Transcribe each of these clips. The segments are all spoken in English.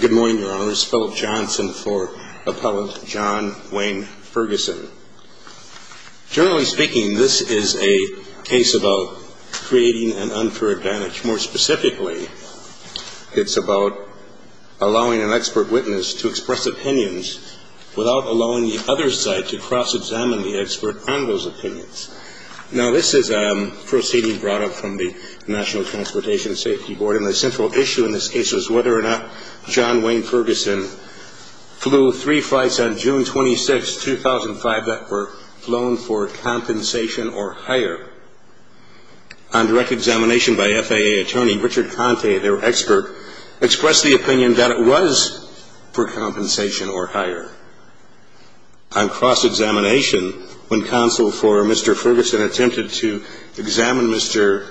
Good morning, Your Honors. Philip Johnson for Appellant John Wayne Ferguson. Generally speaking, this is a case about creating an unfair advantage. More specifically, it's about allowing an expert witness to express opinions without allowing the other side to cross-examine the expert on those opinions. Now, this is a proceeding brought up from the National Transportation Safety Board, and the central issue in this case was whether or not John Wayne Ferguson flew three flights on June 26, 2005 that were flown for compensation or higher. On direct examination by FAA attorney Richard Conte, their expert, expressed the opinion that it was for compensation or higher. On cross-examination, when counsel for Mr. Ferguson attempted to examine Mr.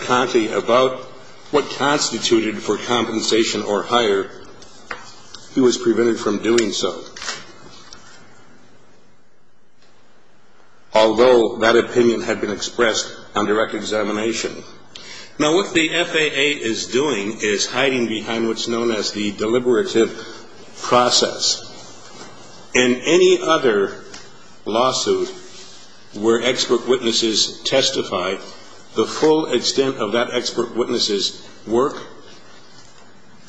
Conte about what constituted for compensation or higher, he was prevented from doing so, although that opinion had been expressed on direct examination. Now, what the FAA is doing is hiding behind what's known as the deliberative process. In any other lawsuit where expert witnesses testify, the full extent of that expert witness' work,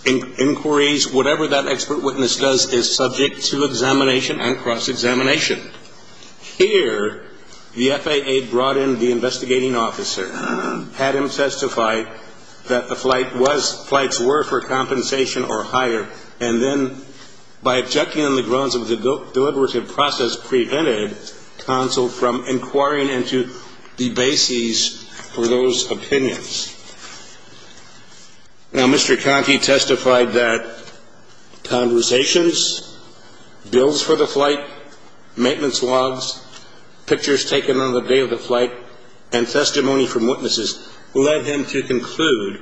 inquiries, whatever that expert witness does is subject to examination and cross-examination. Here, the FAA brought in the investigating officer, had him testify that the flights were for compensation or higher, and then by objecting on the grounds that the deliberative process prevented counsel from inquiring into the bases for those opinions. Now, Mr. Conte testified that conversations, bills for the flight, maintenance logs, pictures taken on the day of the flight, and testimony from witnesses led him to conclude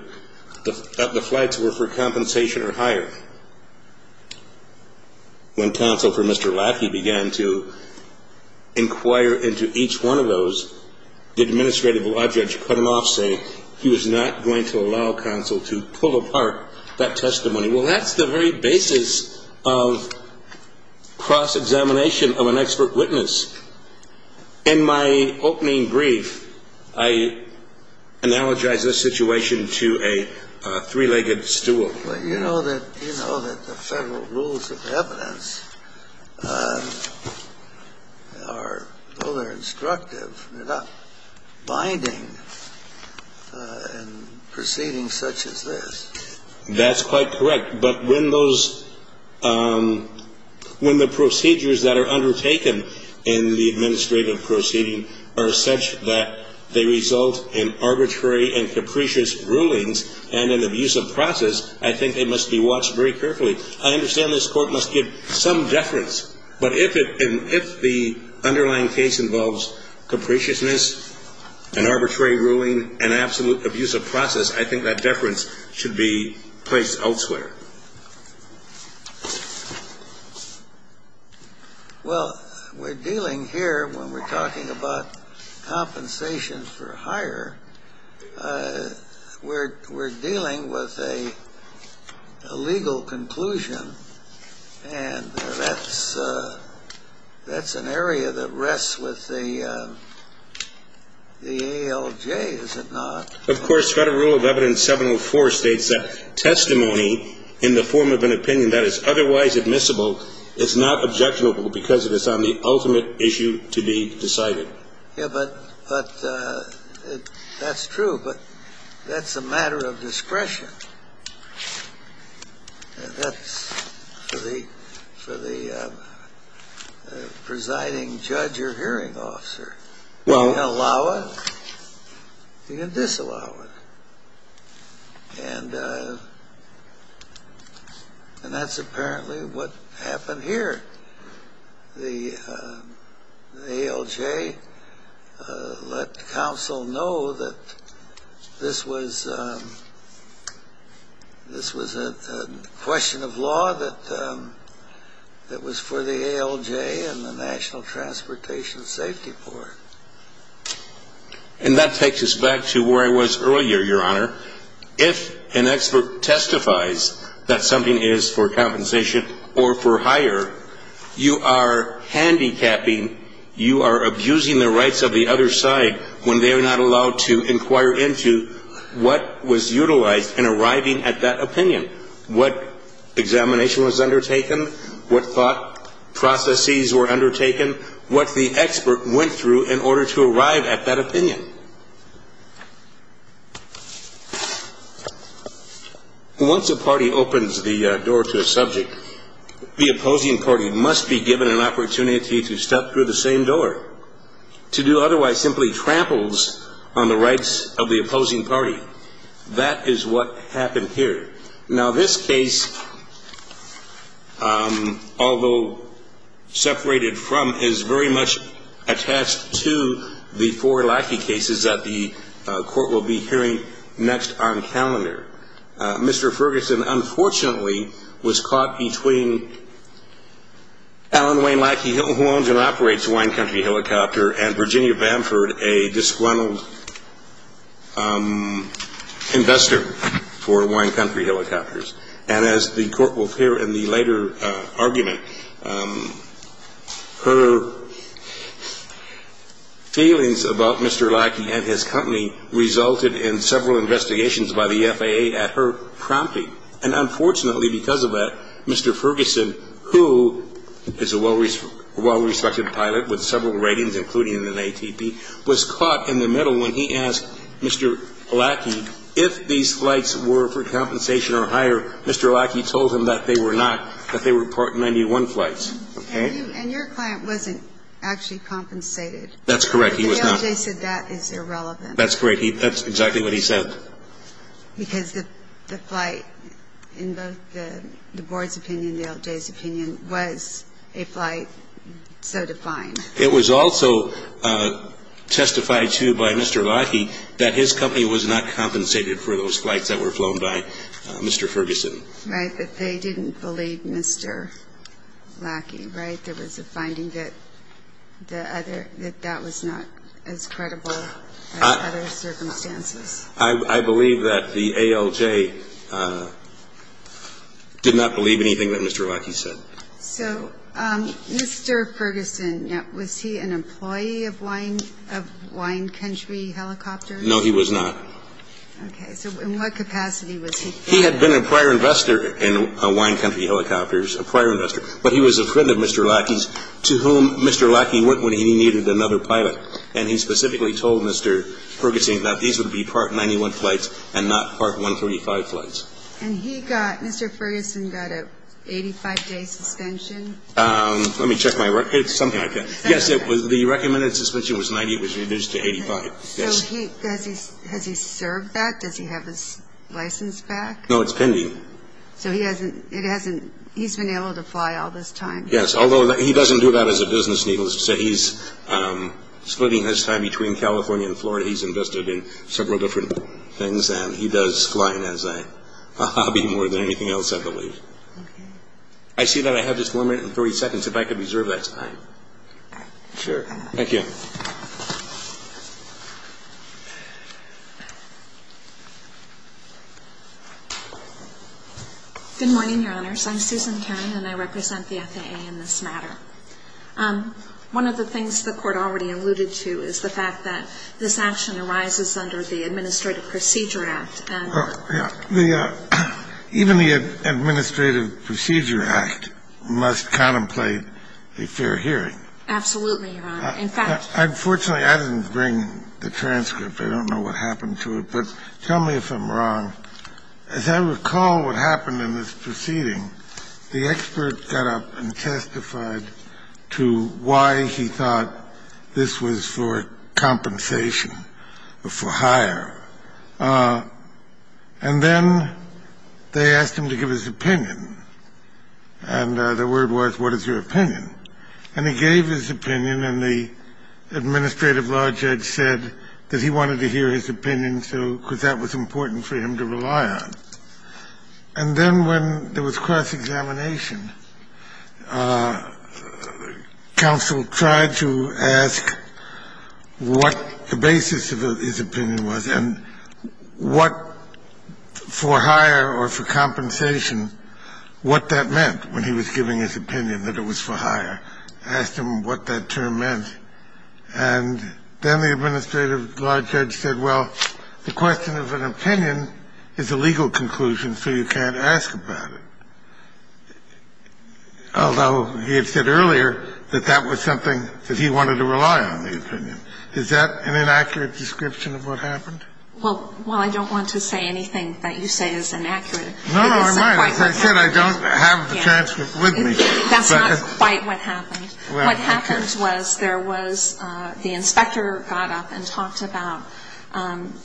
that the flights were for compensation or higher. When counsel for Mr. Lackey began to inquire into each one of those, the administrative law judge cut him off, saying he was not going to allow counsel to pull apart that testimony. Well, that's the very basis of cross-examination of an expert witness. In my opening brief, I analogize this situation to a three-legged stool. Well, you know that the federal rules of evidence are, well, they're instructive. They're not binding in proceedings such as this. That's quite correct. But when the procedures that are undertaken in the administrative proceeding are such that they result in arbitrary and capricious rulings and an abusive process, I think they must be watched very carefully. I understand this Court must give some deference, but if the underlying case involves capriciousness, an arbitrary ruling, an absolute abusive process, I think that deference should be placed elsewhere. Well, we're dealing here, when we're talking about compensation for higher, we're dealing with a legal conclusion, and that's an area that rests with the ALJ, is it not? Of course, Federal Rule of Evidence 704 states that testimony in the form of an opinion that is otherwise admissible is not objectionable because it is on the ultimate issue to be decided. Yeah, but that's true, but that's a matter of discretion. And that's for the presiding judge or hearing officer. You can allow it, you can disallow it. And that's apparently what happened here. The ALJ let counsel know that this was a question of law that was for the ALJ and the National Transportation Safety Board. And that takes us back to where I was earlier, Your Honor. If an expert testifies that something is for compensation or for higher, you are handicapping, you are abusing the rights of the other side when they are not allowed to inquire into what was utilized in arriving at that opinion, what examination was undertaken, what thought processes were undertaken, what the expert went through in order to arrive at that opinion. Once a party opens the door to a subject, the opposing party must be given an opportunity to step through the same door. To do otherwise simply tramples on the rights of the opposing party. That is what happened here. Now, this case, although separated from, is very much attached to the four Lackey cases that the court will be hearing next on calendar. Mr. Ferguson, unfortunately, was caught between Alan Wayne Lackey, who owns and operates Wine Country Helicopter, and Virginia Bamford, a disgruntled investor for Wine Country Helicopters. And as the court will hear in the later argument, her feelings about Mr. Lackey and his company resulted in several investigations by the FAA at her prompting. And unfortunately, because of that, Mr. Ferguson, who is a well-respected pilot with several ratings, including an ATP, was caught in the middle when he asked Mr. Lackey, if these flights were for compensation or hire, Mr. Lackey told him that they were not, that they were Part 91 flights. And your client wasn't actually compensated. That's correct. He was not. The LJ said that is irrelevant. That's correct. That's exactly what he said. Because the flight, in both the board's opinion and the LJ's opinion, was a flight so defined. It was also testified to by Mr. Lackey that his company was not compensated for those flights that were flown by Mr. Ferguson. Right, but they didn't believe Mr. Lackey, right? There was a finding that that was not as credible as other circumstances. I believe that the ALJ did not believe anything that Mr. Lackey said. So Mr. Ferguson, was he an employee of Wine Country Helicopters? No, he was not. Okay. So in what capacity was he? He had been a prior investor in Wine Country Helicopters, a prior investor, but he was a friend of Mr. Lackey's, to whom Mr. Lackey went when he needed another pilot. And he specifically told Mr. Ferguson that these would be Part 91 flights and not Part 135 flights. And he got, Mr. Ferguson got an 85-day suspension? Let me check my records. Something like that. Yes, the recommended suspension was 90. It was reduced to 85. So has he served that? Does he have his license back? No, it's pending. So he hasn't, he's been able to fly all this time. Yes, although he doesn't do that as a business legalist. So he's splitting his time between California and Florida. He's invested in several different things, and he does flying as a hobby more than anything else, I believe. Okay. I see that I have just one minute and 30 seconds. If I could reserve that time. All right. Sure. Thank you. Good morning, Your Honors. I'm Susan Cannon, and I represent the FAA in this matter. One of the things the Court already alluded to is the fact that this action arises under the Administrative Procedure Act. Even the Administrative Procedure Act must contemplate a fair hearing. Absolutely, Your Honor. Unfortunately, I didn't bring the transcript. I don't know what happened to it. But tell me if I'm wrong. As I recall what happened in this proceeding, the expert got up and testified to why he thought this was for compensation or for hire. And then they asked him to give his opinion. And the word was, what is your opinion? And he gave his opinion, and the administrative law judge said that he wanted to hear his opinion because that was important for him to rely on. And then when there was cross-examination, counsel tried to ask what the basis of his opinion was and what for hire or for compensation, what that meant when he was giving his opinion that it was for hire. Asked him what that term meant. And then the administrative law judge said, well, the question of an opinion is a legal conclusion, so you can't ask about it. Although he had said earlier that that was something that he wanted to rely on, the opinion. Is that an inaccurate description of what happened? Well, I don't want to say anything that you say is inaccurate. No, no, I might. As I said, I don't have the transcript with me. That's not quite what happened. What happened was the inspector got up and talked about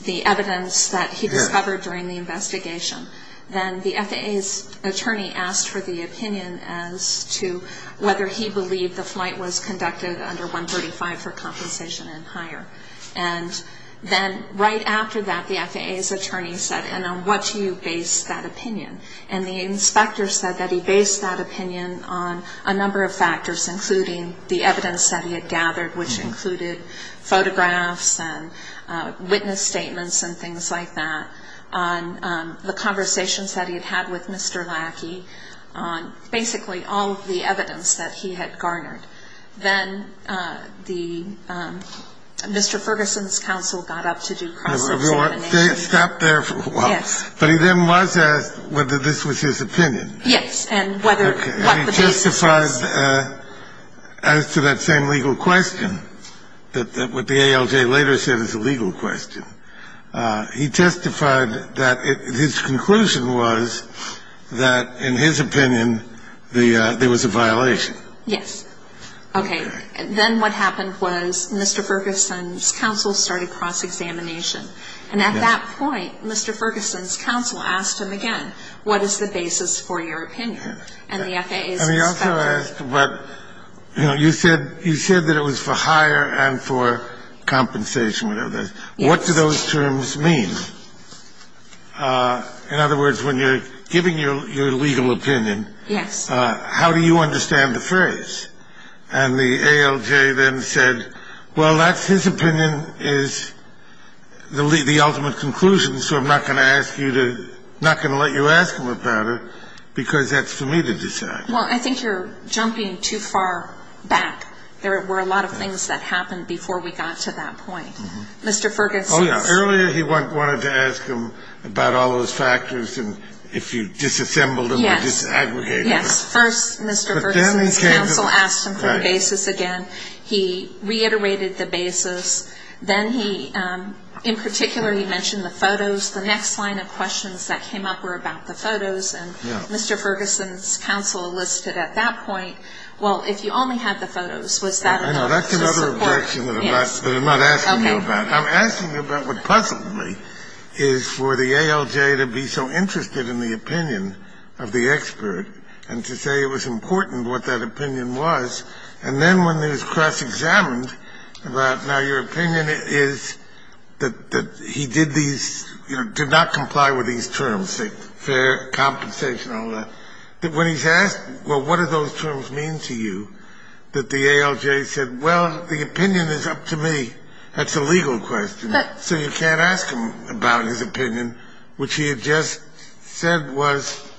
the evidence that he discovered during the investigation. Then the FAA's attorney asked for the opinion as to whether he believed the flight was conducted under 135 for compensation and hire. And then right after that, the FAA's attorney said, and on what do you base that opinion? And the inspector said that he based that opinion on a number of factors, including the evidence that he had gathered, which included photographs and witness statements and things like that, on the conversations that he had had with Mr. Lackey, on basically all of the evidence that he had garnered. Then the Mr. Ferguson's counsel got up to do cross-examination. They had stopped there for a while. Yes. But he then was asked whether this was his opinion. Yes, and what the basis was. As to that same legal question, that what the ALJ later said is a legal question, he testified that his conclusion was that, in his opinion, there was a violation. Yes. Okay. Then what happened was Mr. Ferguson's counsel started cross-examination. And at that point, Mr. Ferguson's counsel asked him again, what is the basis for your opinion? And he also asked about, you know, you said that it was for hire and for compensation, whatever that is. Yes. What do those terms mean? In other words, when you're giving your legal opinion, how do you understand the phrase? And the ALJ then said, well, that's his opinion is the ultimate conclusion, so I'm not going to let you ask him about it because that's for me to decide. Well, I think you're jumping too far back. There were a lot of things that happened before we got to that point. Mr. Ferguson's. Oh, yeah. Earlier he wanted to ask him about all those factors and if you disassembled them or disaggregated them. Yes. First, Mr. Ferguson's counsel asked him for the basis again. He reiterated the basis. Then he, in particular, he mentioned the photos. The next line of questions that came up were about the photos. Yeah. And Mr. Ferguson's counsel listed at that point, well, if you only had the photos, was that enough to support. That's another objection that I'm not asking you about. Okay. I'm asking you about what possibly is for the ALJ to be so interested in the opinion of the expert and to say it was important what that opinion was. And then when it was cross-examined about now your opinion is that he did these, you know, did not comply with these terms, fair, compensation, all that. When he's asked, well, what do those terms mean to you, that the ALJ said, well, the opinion is up to me. That's a legal question. So you can't ask him about his opinion, which he had just said was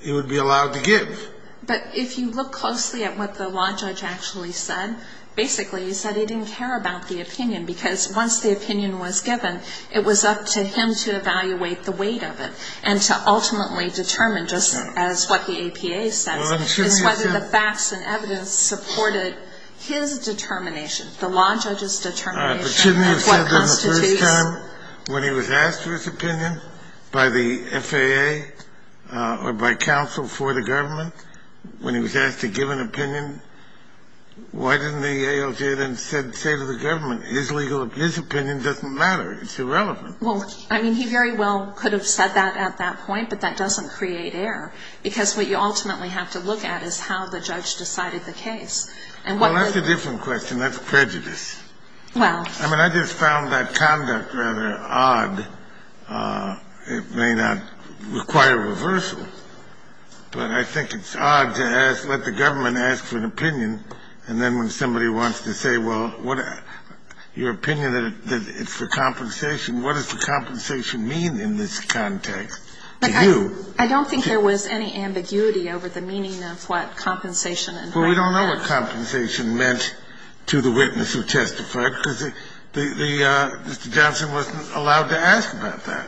he would be allowed to give. But if you look closely at what the law judge actually said, basically he said he didn't care about the opinion because once the opinion was given, it was up to him to evaluate the weight of it and to ultimately determine just as what the APA says is whether the facts and evidence supported his determination, the law judge's determination of what constitutes. The first time when he was asked for his opinion by the FAA or by counsel for the government, when he was asked to give an opinion, why didn't the ALJ then say to the government, his opinion doesn't matter, it's irrelevant. Well, I mean, he very well could have said that at that point, but that doesn't create error because what you ultimately have to look at is how the judge decided the case. Well, that's a different question. That's prejudice. I mean, I just found that conduct rather odd. It may not require reversal, but I think it's odd to let the government ask for an opinion and then when somebody wants to say, well, your opinion that it's for compensation, what does the compensation mean in this context to you? I don't think there was any ambiguity over the meaning of what compensation meant. Well, we don't know what compensation meant to the witness who testified because Mr. Johnson wasn't allowed to ask about that.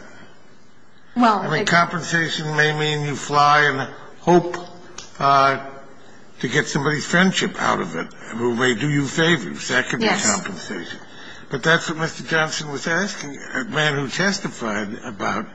I mean, compensation may mean you fly and hope to get somebody's friendship out of it who may do you favors. That could be compensation. But that's what Mr. Johnson was asking, a man who testified about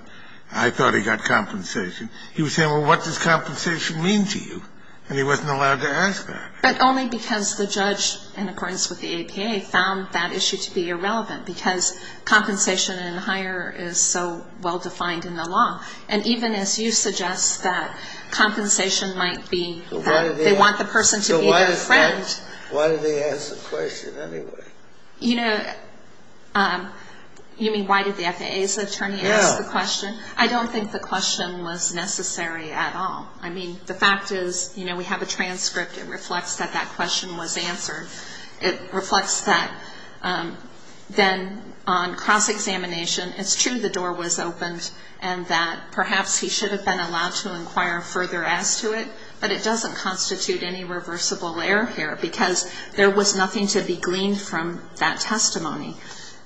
I thought he got compensation. He was saying, well, what does compensation mean to you? And he wasn't allowed to ask that. But only because the judge, in accordance with the APA, found that issue to be irrelevant because compensation and hire is so well defined in the law. And even as you suggest that compensation might be that they want the person to be their friend. So why did they ask the question anyway? You know, you mean why did the FAA's attorney ask the question? Yeah. I don't think the question was necessary at all. I mean, the fact is, you know, we have a transcript. It reflects that that question was answered. It reflects that then on cross-examination, it's true the door was opened and that perhaps he should have been allowed to inquire further as to it, but it doesn't constitute any reversible error here because there was nothing to be gleaned from that testimony.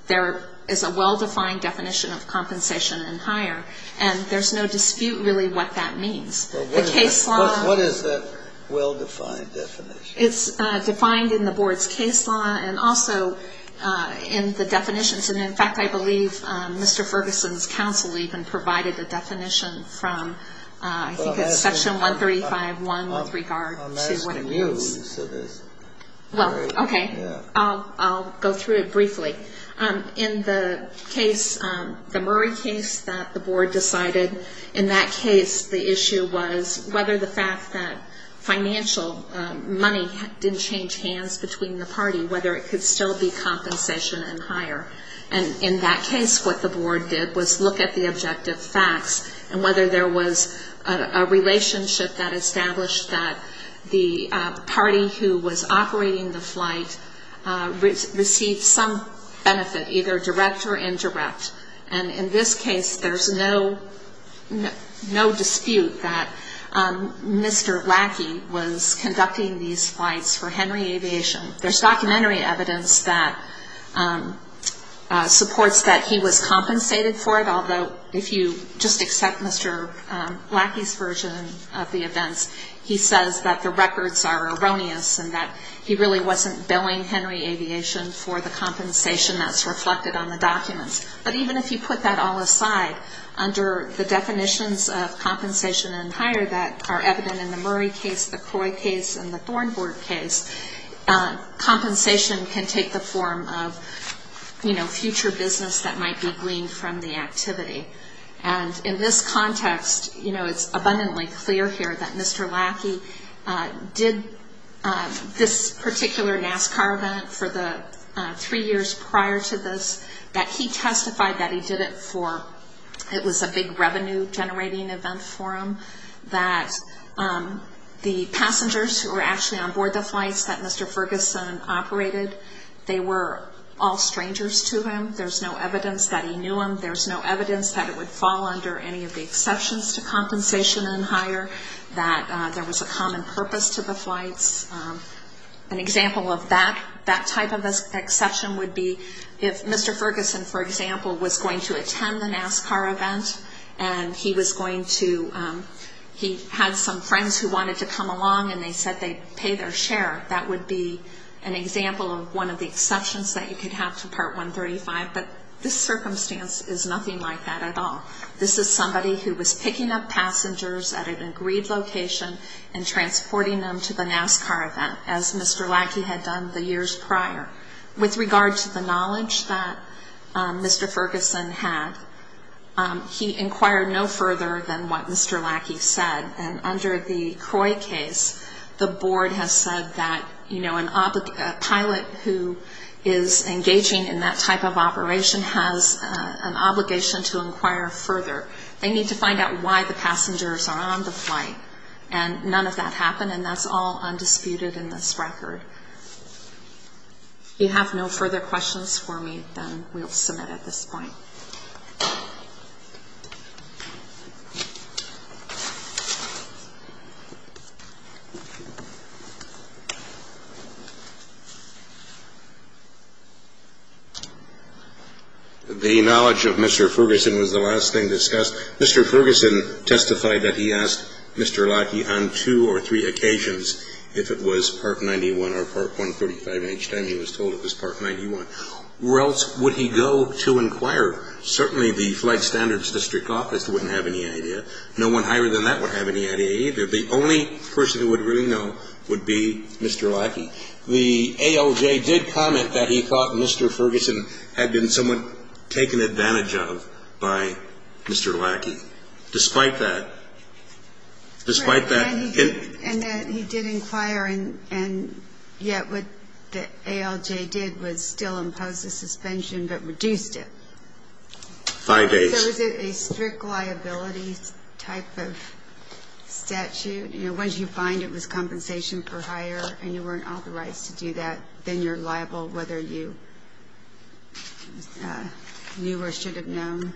There is a well-defined definition of compensation and hire, and there's no dispute really what that means. The case law — What is that well-defined definition? It's defined in the Board's case law and also in the definitions. And, in fact, I believe Mr. Ferguson's counsel even provided a definition from, I think it's Section 135.1 with regard to what it means. I'm asking you, so there's — Well, okay. Yeah. I'll go through it briefly. In the case, the Murray case that the Board decided, in that case, the issue was whether the fact that financial money didn't change hands between the party, whether it could still be compensation and hire. And in that case, what the Board did was look at the objective facts and whether there was a relationship that established that the party who was operating the flight received some benefit, either direct or indirect. And in this case, there's no dispute that Mr. Lackey was conducting these flights for Henry Aviation. There's documentary evidence that supports that he was compensated for it, although if you just accept Mr. Lackey's version of the events, he says that the records are erroneous and that he really wasn't billing Henry Aviation for the compensation that's reflected on the documents. But even if you put that all aside, under the definitions of compensation and hire that are evident in the Murray case, the Croy case, and the Thornburg case, compensation can take the form of future business that might be gleaned from the activity. And in this context, it's abundantly clear here that Mr. Lackey did this particular NASCAR event for the three years prior to this, that he testified that he did it for, it was a big revenue-generating event for him, that the passengers who were actually on board the flights that Mr. Ferguson operated, they were all strangers to him. There's no evidence that he knew them. There's no evidence that it would fall under any of the exceptions to compensation and hire, that there was a common purpose to the flights. An example of that type of exception would be if Mr. Ferguson, for example, was going to attend the NASCAR event and he was going to, he had some friends who wanted to come along and they said they'd pay their share. That would be an example of one of the exceptions that you could have to Part 135. But this circumstance is nothing like that at all. This is somebody who was picking up passengers at an agreed location and transporting them to the NASCAR event, as Mr. Lackey had done the years prior. With regard to the knowledge that Mr. Ferguson had, he inquired no further than what Mr. Lackey said. And under the CROI case, the board has said that, you know, a pilot who is engaging in that type of operation has an obligation to inquire further. They need to find out why the passengers are on the flight. And none of that happened, and that's all undisputed in this record. If you have no further questions for me, then we will submit at this point. The knowledge of Mr. Ferguson was the last thing discussed. Mr. Ferguson testified that he asked Mr. Lackey on two or three occasions if it was Part 91 or Part 145, and each time he was told it was Part 91. Where else would he go to inquire? Certainly the Flight Standards District Office wouldn't have any idea. No one higher than that would have any idea either. The only person who would really know would be Mr. Lackey. The ALJ did comment that he thought Mr. Ferguson had been somewhat taken advantage of by Mr. Lackey. Despite that, despite that. And that he did inquire, and yet what the ALJ did was still impose the suspension but reduced it. Five days. So is it a strict liability type of statute? Once you find it was compensation for hire and you weren't authorized to do that, then you're liable whether you knew or should have known?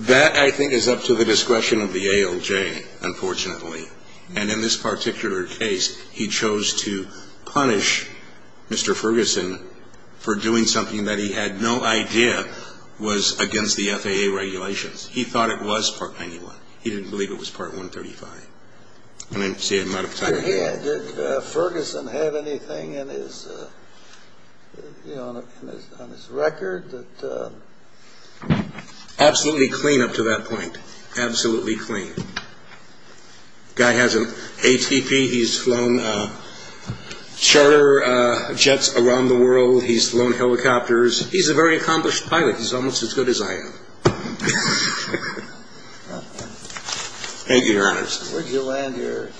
That, I think, is up to the discretion of the ALJ, unfortunately. And in this particular case, he chose to punish Mr. Ferguson for doing something that he had no idea was against the FAA regulations. He thought it was Part 91. He didn't believe it was Part 135. Did Ferguson have anything on his record? Absolutely clean up to that point. Absolutely clean. Guy has an ATP. He's flown charter jets around the world. He's flown helicopters. He's a very accomplished pilot. He's almost as good as I am. Thank you, Your Honor. Where did you land your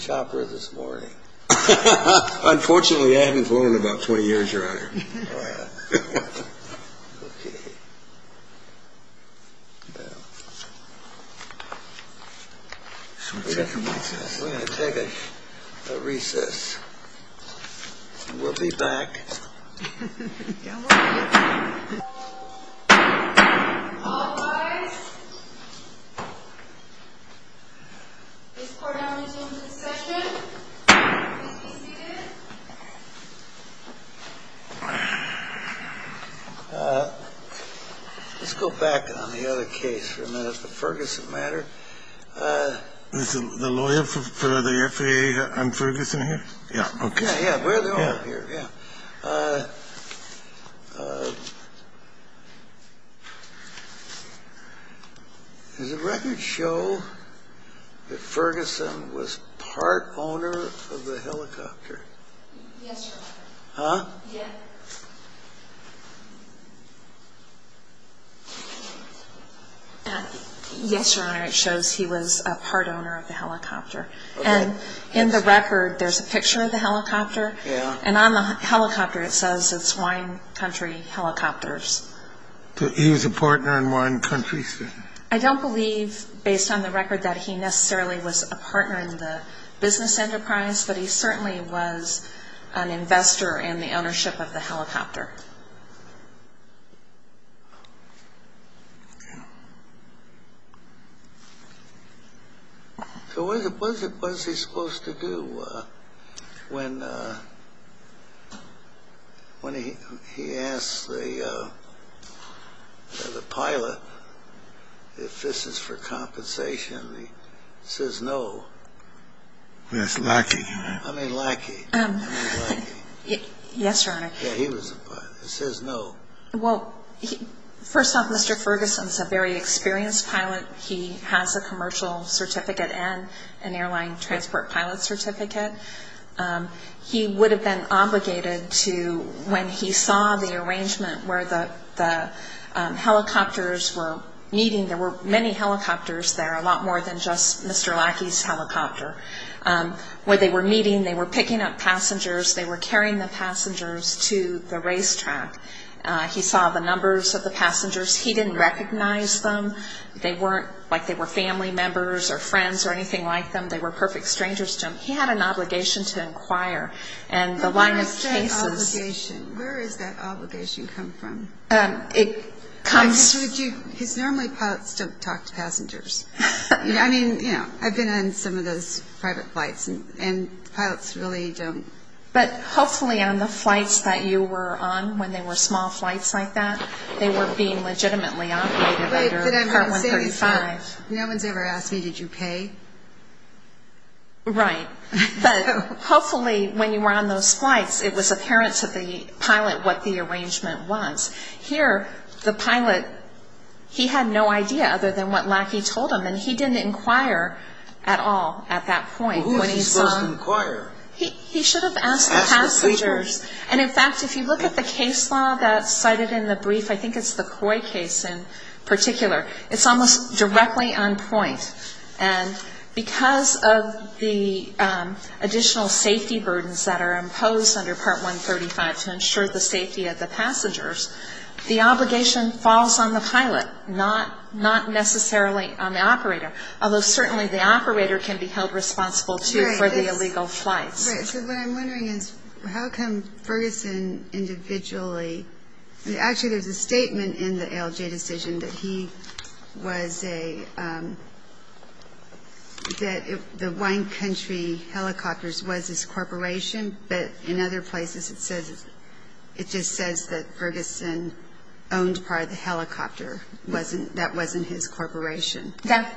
chopper this morning? Unfortunately, I haven't flown in about 20 years, Your Honor. Oh, yeah. Okay. Now, we're going to take a recess. We'll be back. Yeah, we'll be back. All rise. This court now begins the session. Please be seated. Let's go back on the other case for a minute, the Ferguson matter. Is the lawyer for the FAA and Ferguson here? Yeah. Okay. Yeah, we're the only ones here. Yeah. Does the record show that Ferguson was part owner of the helicopter? Yes, Your Honor. Huh? Yeah. Yes, Your Honor. It shows he was a part owner of the helicopter. Okay. And in the record, there's a picture of the helicopter. Yeah. And on the helicopter, it says it's Wine Country Helicopters. He was a partner in Wine Country? I don't believe, based on the record, that he necessarily was a partner in the business enterprise, but he certainly was an investor in the ownership of the helicopter. Okay. So what is he supposed to do when he asks the pilot if this is for compensation? He says no. That's lackey. Yes, Your Honor. Yeah, he was a pilot. It says no. Well, first off, Mr. Ferguson is a very experienced pilot. He has a commercial certificate and an airline transport pilot certificate. He would have been obligated to, when he saw the arrangement where the helicopters were meeting, there were many helicopters there, a lot more than just Mr. Lackey's helicopter. When they were meeting, they were picking up passengers. They were carrying the passengers to the racetrack. He saw the numbers of the passengers. He didn't recognize them. They weren't like they were family members or friends or anything like them. They were perfect strangers to him. He had an obligation to inquire. And the line of cases – When I say obligation, where does that obligation come from? It comes – I've told you, normally pilots don't talk to passengers. I mean, you know, I've been on some of those private flights, and pilots really don't – But hopefully on the flights that you were on, when they were small flights like that, they were being legitimately operated under Part 135. No one's ever asked me, did you pay? Right. But hopefully when you were on those flights, it was apparent to the pilot what the arrangement was. Here, the pilot, he had no idea other than what Lackey told him, and he didn't inquire at all at that point. Well, who was he supposed to inquire? He should have asked the passengers. And, in fact, if you look at the case law that's cited in the brief, I think it's the CROI case in particular, it's almost directly on point. And because of the additional safety burdens that are imposed under Part 135 to ensure the safety of the passengers, the obligation falls on the pilot, not necessarily on the operator, although certainly the operator can be held responsible, too, for the illegal flights. Right. So what I'm wondering is how come Ferguson individually – actually, there's a statement in the ALJ decision that he was a – that the Wine Country Helicopters was his corporation, but in other places it just says that Ferguson owned part of the helicopter. That wasn't his corporation.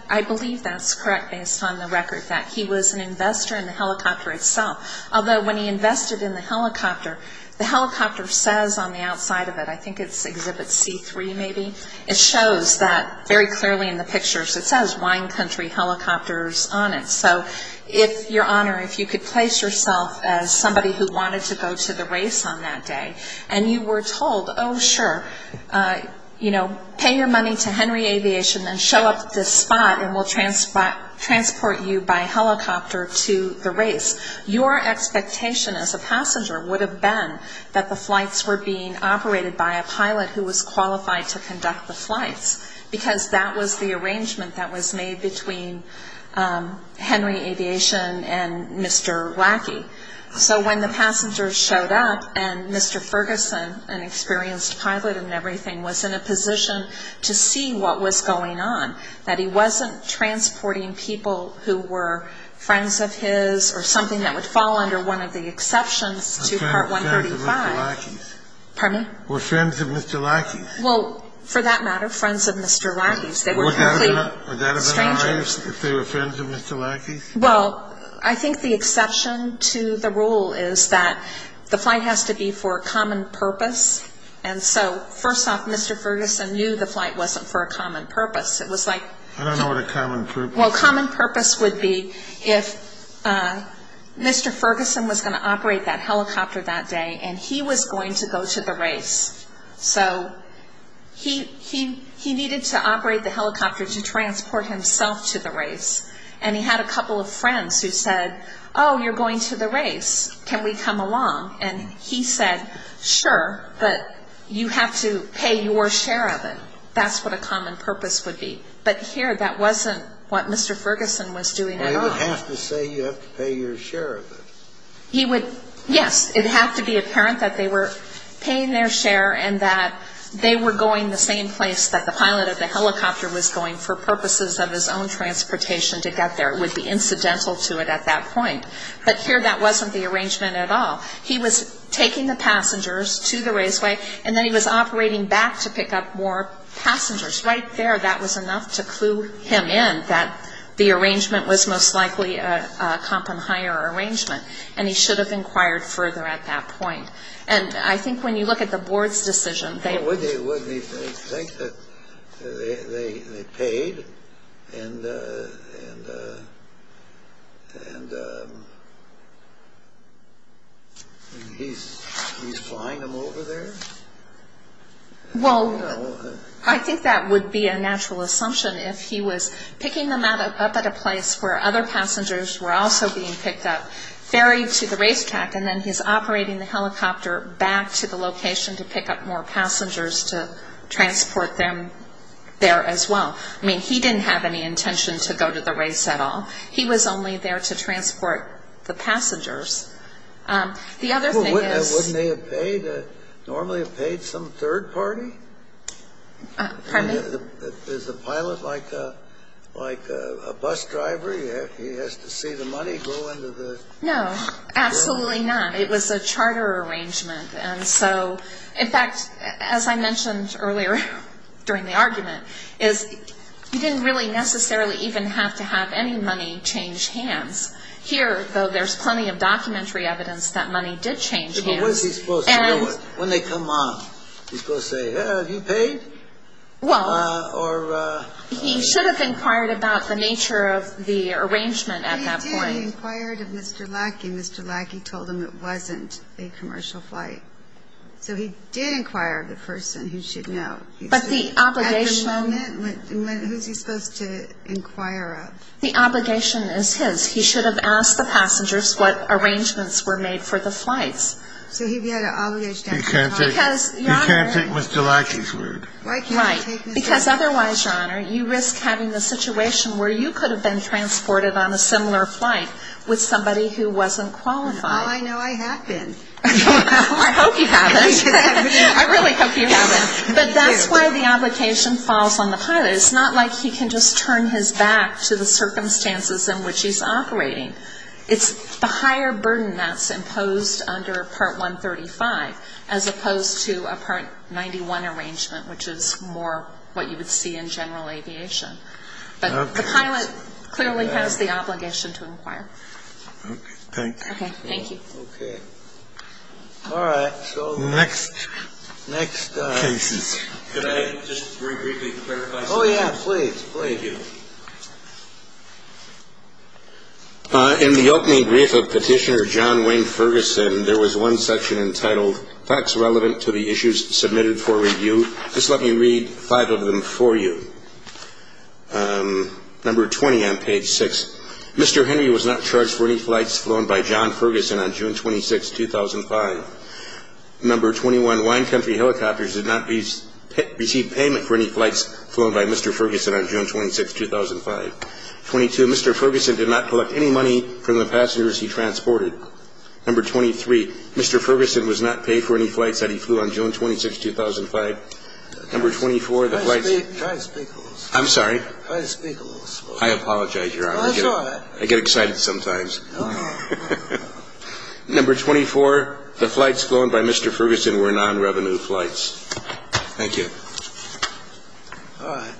I believe that's correct, based on the record, that he was an investor in the helicopter itself, although when he invested in the helicopter, the helicopter says on the outside of it – I think it's Exhibit C3, maybe – it shows that very clearly in the pictures, it says Wine Country Helicopters on it. So if, Your Honor, if you could place yourself as somebody who wanted to go to the race on that day and you were told, oh, sure, pay your money to Henry Aviation and show up at this spot and we'll transport you by helicopter to the race, your expectation as a passenger would have been that the flights were being operated by a pilot who was qualified to conduct the flights, because that was the arrangement that was made between Henry Aviation and Mr. Lackey. So when the passengers showed up and Mr. Ferguson, an experienced pilot and everything, was in a position to see what was going on, that he wasn't transporting people who were friends of his or something that would fall under one of the exceptions to Part 135. Friends of Mr. Lackey's. Pardon me? Or friends of Mr. Lackey's. Well, for that matter, friends of Mr. Lackey's. Would that have been all right if they were friends of Mr. Lackey's? Well, I think the exception to the rule is that the flight has to be for a common purpose. And so, first off, Mr. Ferguson knew the flight wasn't for a common purpose. It was like – I don't know what a common purpose is. Well, common purpose would be if Mr. Ferguson was going to operate that helicopter that day and he was going to go to the race. So he needed to operate the helicopter to transport himself to the race. And he had a couple of friends who said, oh, you're going to the race, can we come along? And he said, sure, but you have to pay your share of it. That's what a common purpose would be. But here, that wasn't what Mr. Ferguson was doing at all. He would have to say you have to pay your share of it. Yes, it had to be apparent that they were paying their share and that they were going the same place that the pilot of the helicopter was going for purposes of his own transportation to get there. It would be incidental to it at that point. But here, that wasn't the arrangement at all. He was taking the passengers to the raceway, and then he was operating back to pick up more passengers. Right there, that was enough to clue him in that the arrangement was most likely a comp and hire arrangement. And he should have inquired further at that point. And I think when you look at the board's decision. Would they think that they paid? And he's flying them over there? Well, I think that would be a natural assumption. If he was picking them up at a place where other passengers were also being picked up, ferried to the racetrack, and then he's operating the helicopter back to the location to pick up more passengers to transport them there as well. I mean, he didn't have any intention to go to the race at all. He was only there to transport the passengers. The other thing is. Well, wouldn't they have paid? Normally have paid some third party? Pardon me? Is the pilot like a bus driver? He has to see the money go into the? No, absolutely not. It was a charter arrangement. And so, in fact, as I mentioned earlier during the argument, is he didn't really necessarily even have to have any money change hands. Here, though, there's plenty of documentary evidence that money did change hands. When they come on, he's supposed to say, have you paid? Well. Or. He should have inquired about the nature of the arrangement at that point. He did. He inquired of Mr. Lackey. Mr. Lackey told him it wasn't a commercial flight. So he did inquire of the person who should know. But the obligation. At the moment, who's he supposed to inquire of? The obligation is his. He should have asked the passengers what arrangements were made for the flights. So he had an obligation. He can't take Mr. Lackey's word. Right. Because otherwise, Your Honor, you risk having a situation where you could have been transported on a similar flight with somebody who wasn't qualified. Well, I know I have been. I hope you haven't. I really hope you haven't. But that's why the obligation falls on the pilot. It's not like he can just turn his back to the circumstances in which he's operating. It's the higher burden that's imposed under Part 135 as opposed to a Part 91 arrangement, which is more what you would see in general aviation. But the pilot clearly has the obligation to inquire. Okay. Thank you. Okay. Thank you. Okay. All right. So next. Next. Cases. Could I just very briefly clarify something? Oh, yeah. Please. Please. Thank you. In the opening brief of Petitioner John Wayne Ferguson, there was one section entitled, Facts Relevant to the Issues Submitted for Review. Just let me read five of them for you. Number 20 on page 6. Mr. Henry was not charged for any flights flown by John Ferguson on June 26, 2005. Number 21. Wine Country Helicopters did not receive payment for any flights flown by Mr. Ferguson on June 26, 2005. 22. Mr. Ferguson did not collect any money from the passengers he transported. Number 23. Mr. Ferguson was not paid for any flights that he flew on June 26, 2005. Number 24. Try to speak a little slower. I'm sorry? Try to speak a little slower. I apologize, Your Honor. Go ahead. I get excited sometimes. Number 24. The flights flown by Mr. Ferguson were non-revenue flights. All right.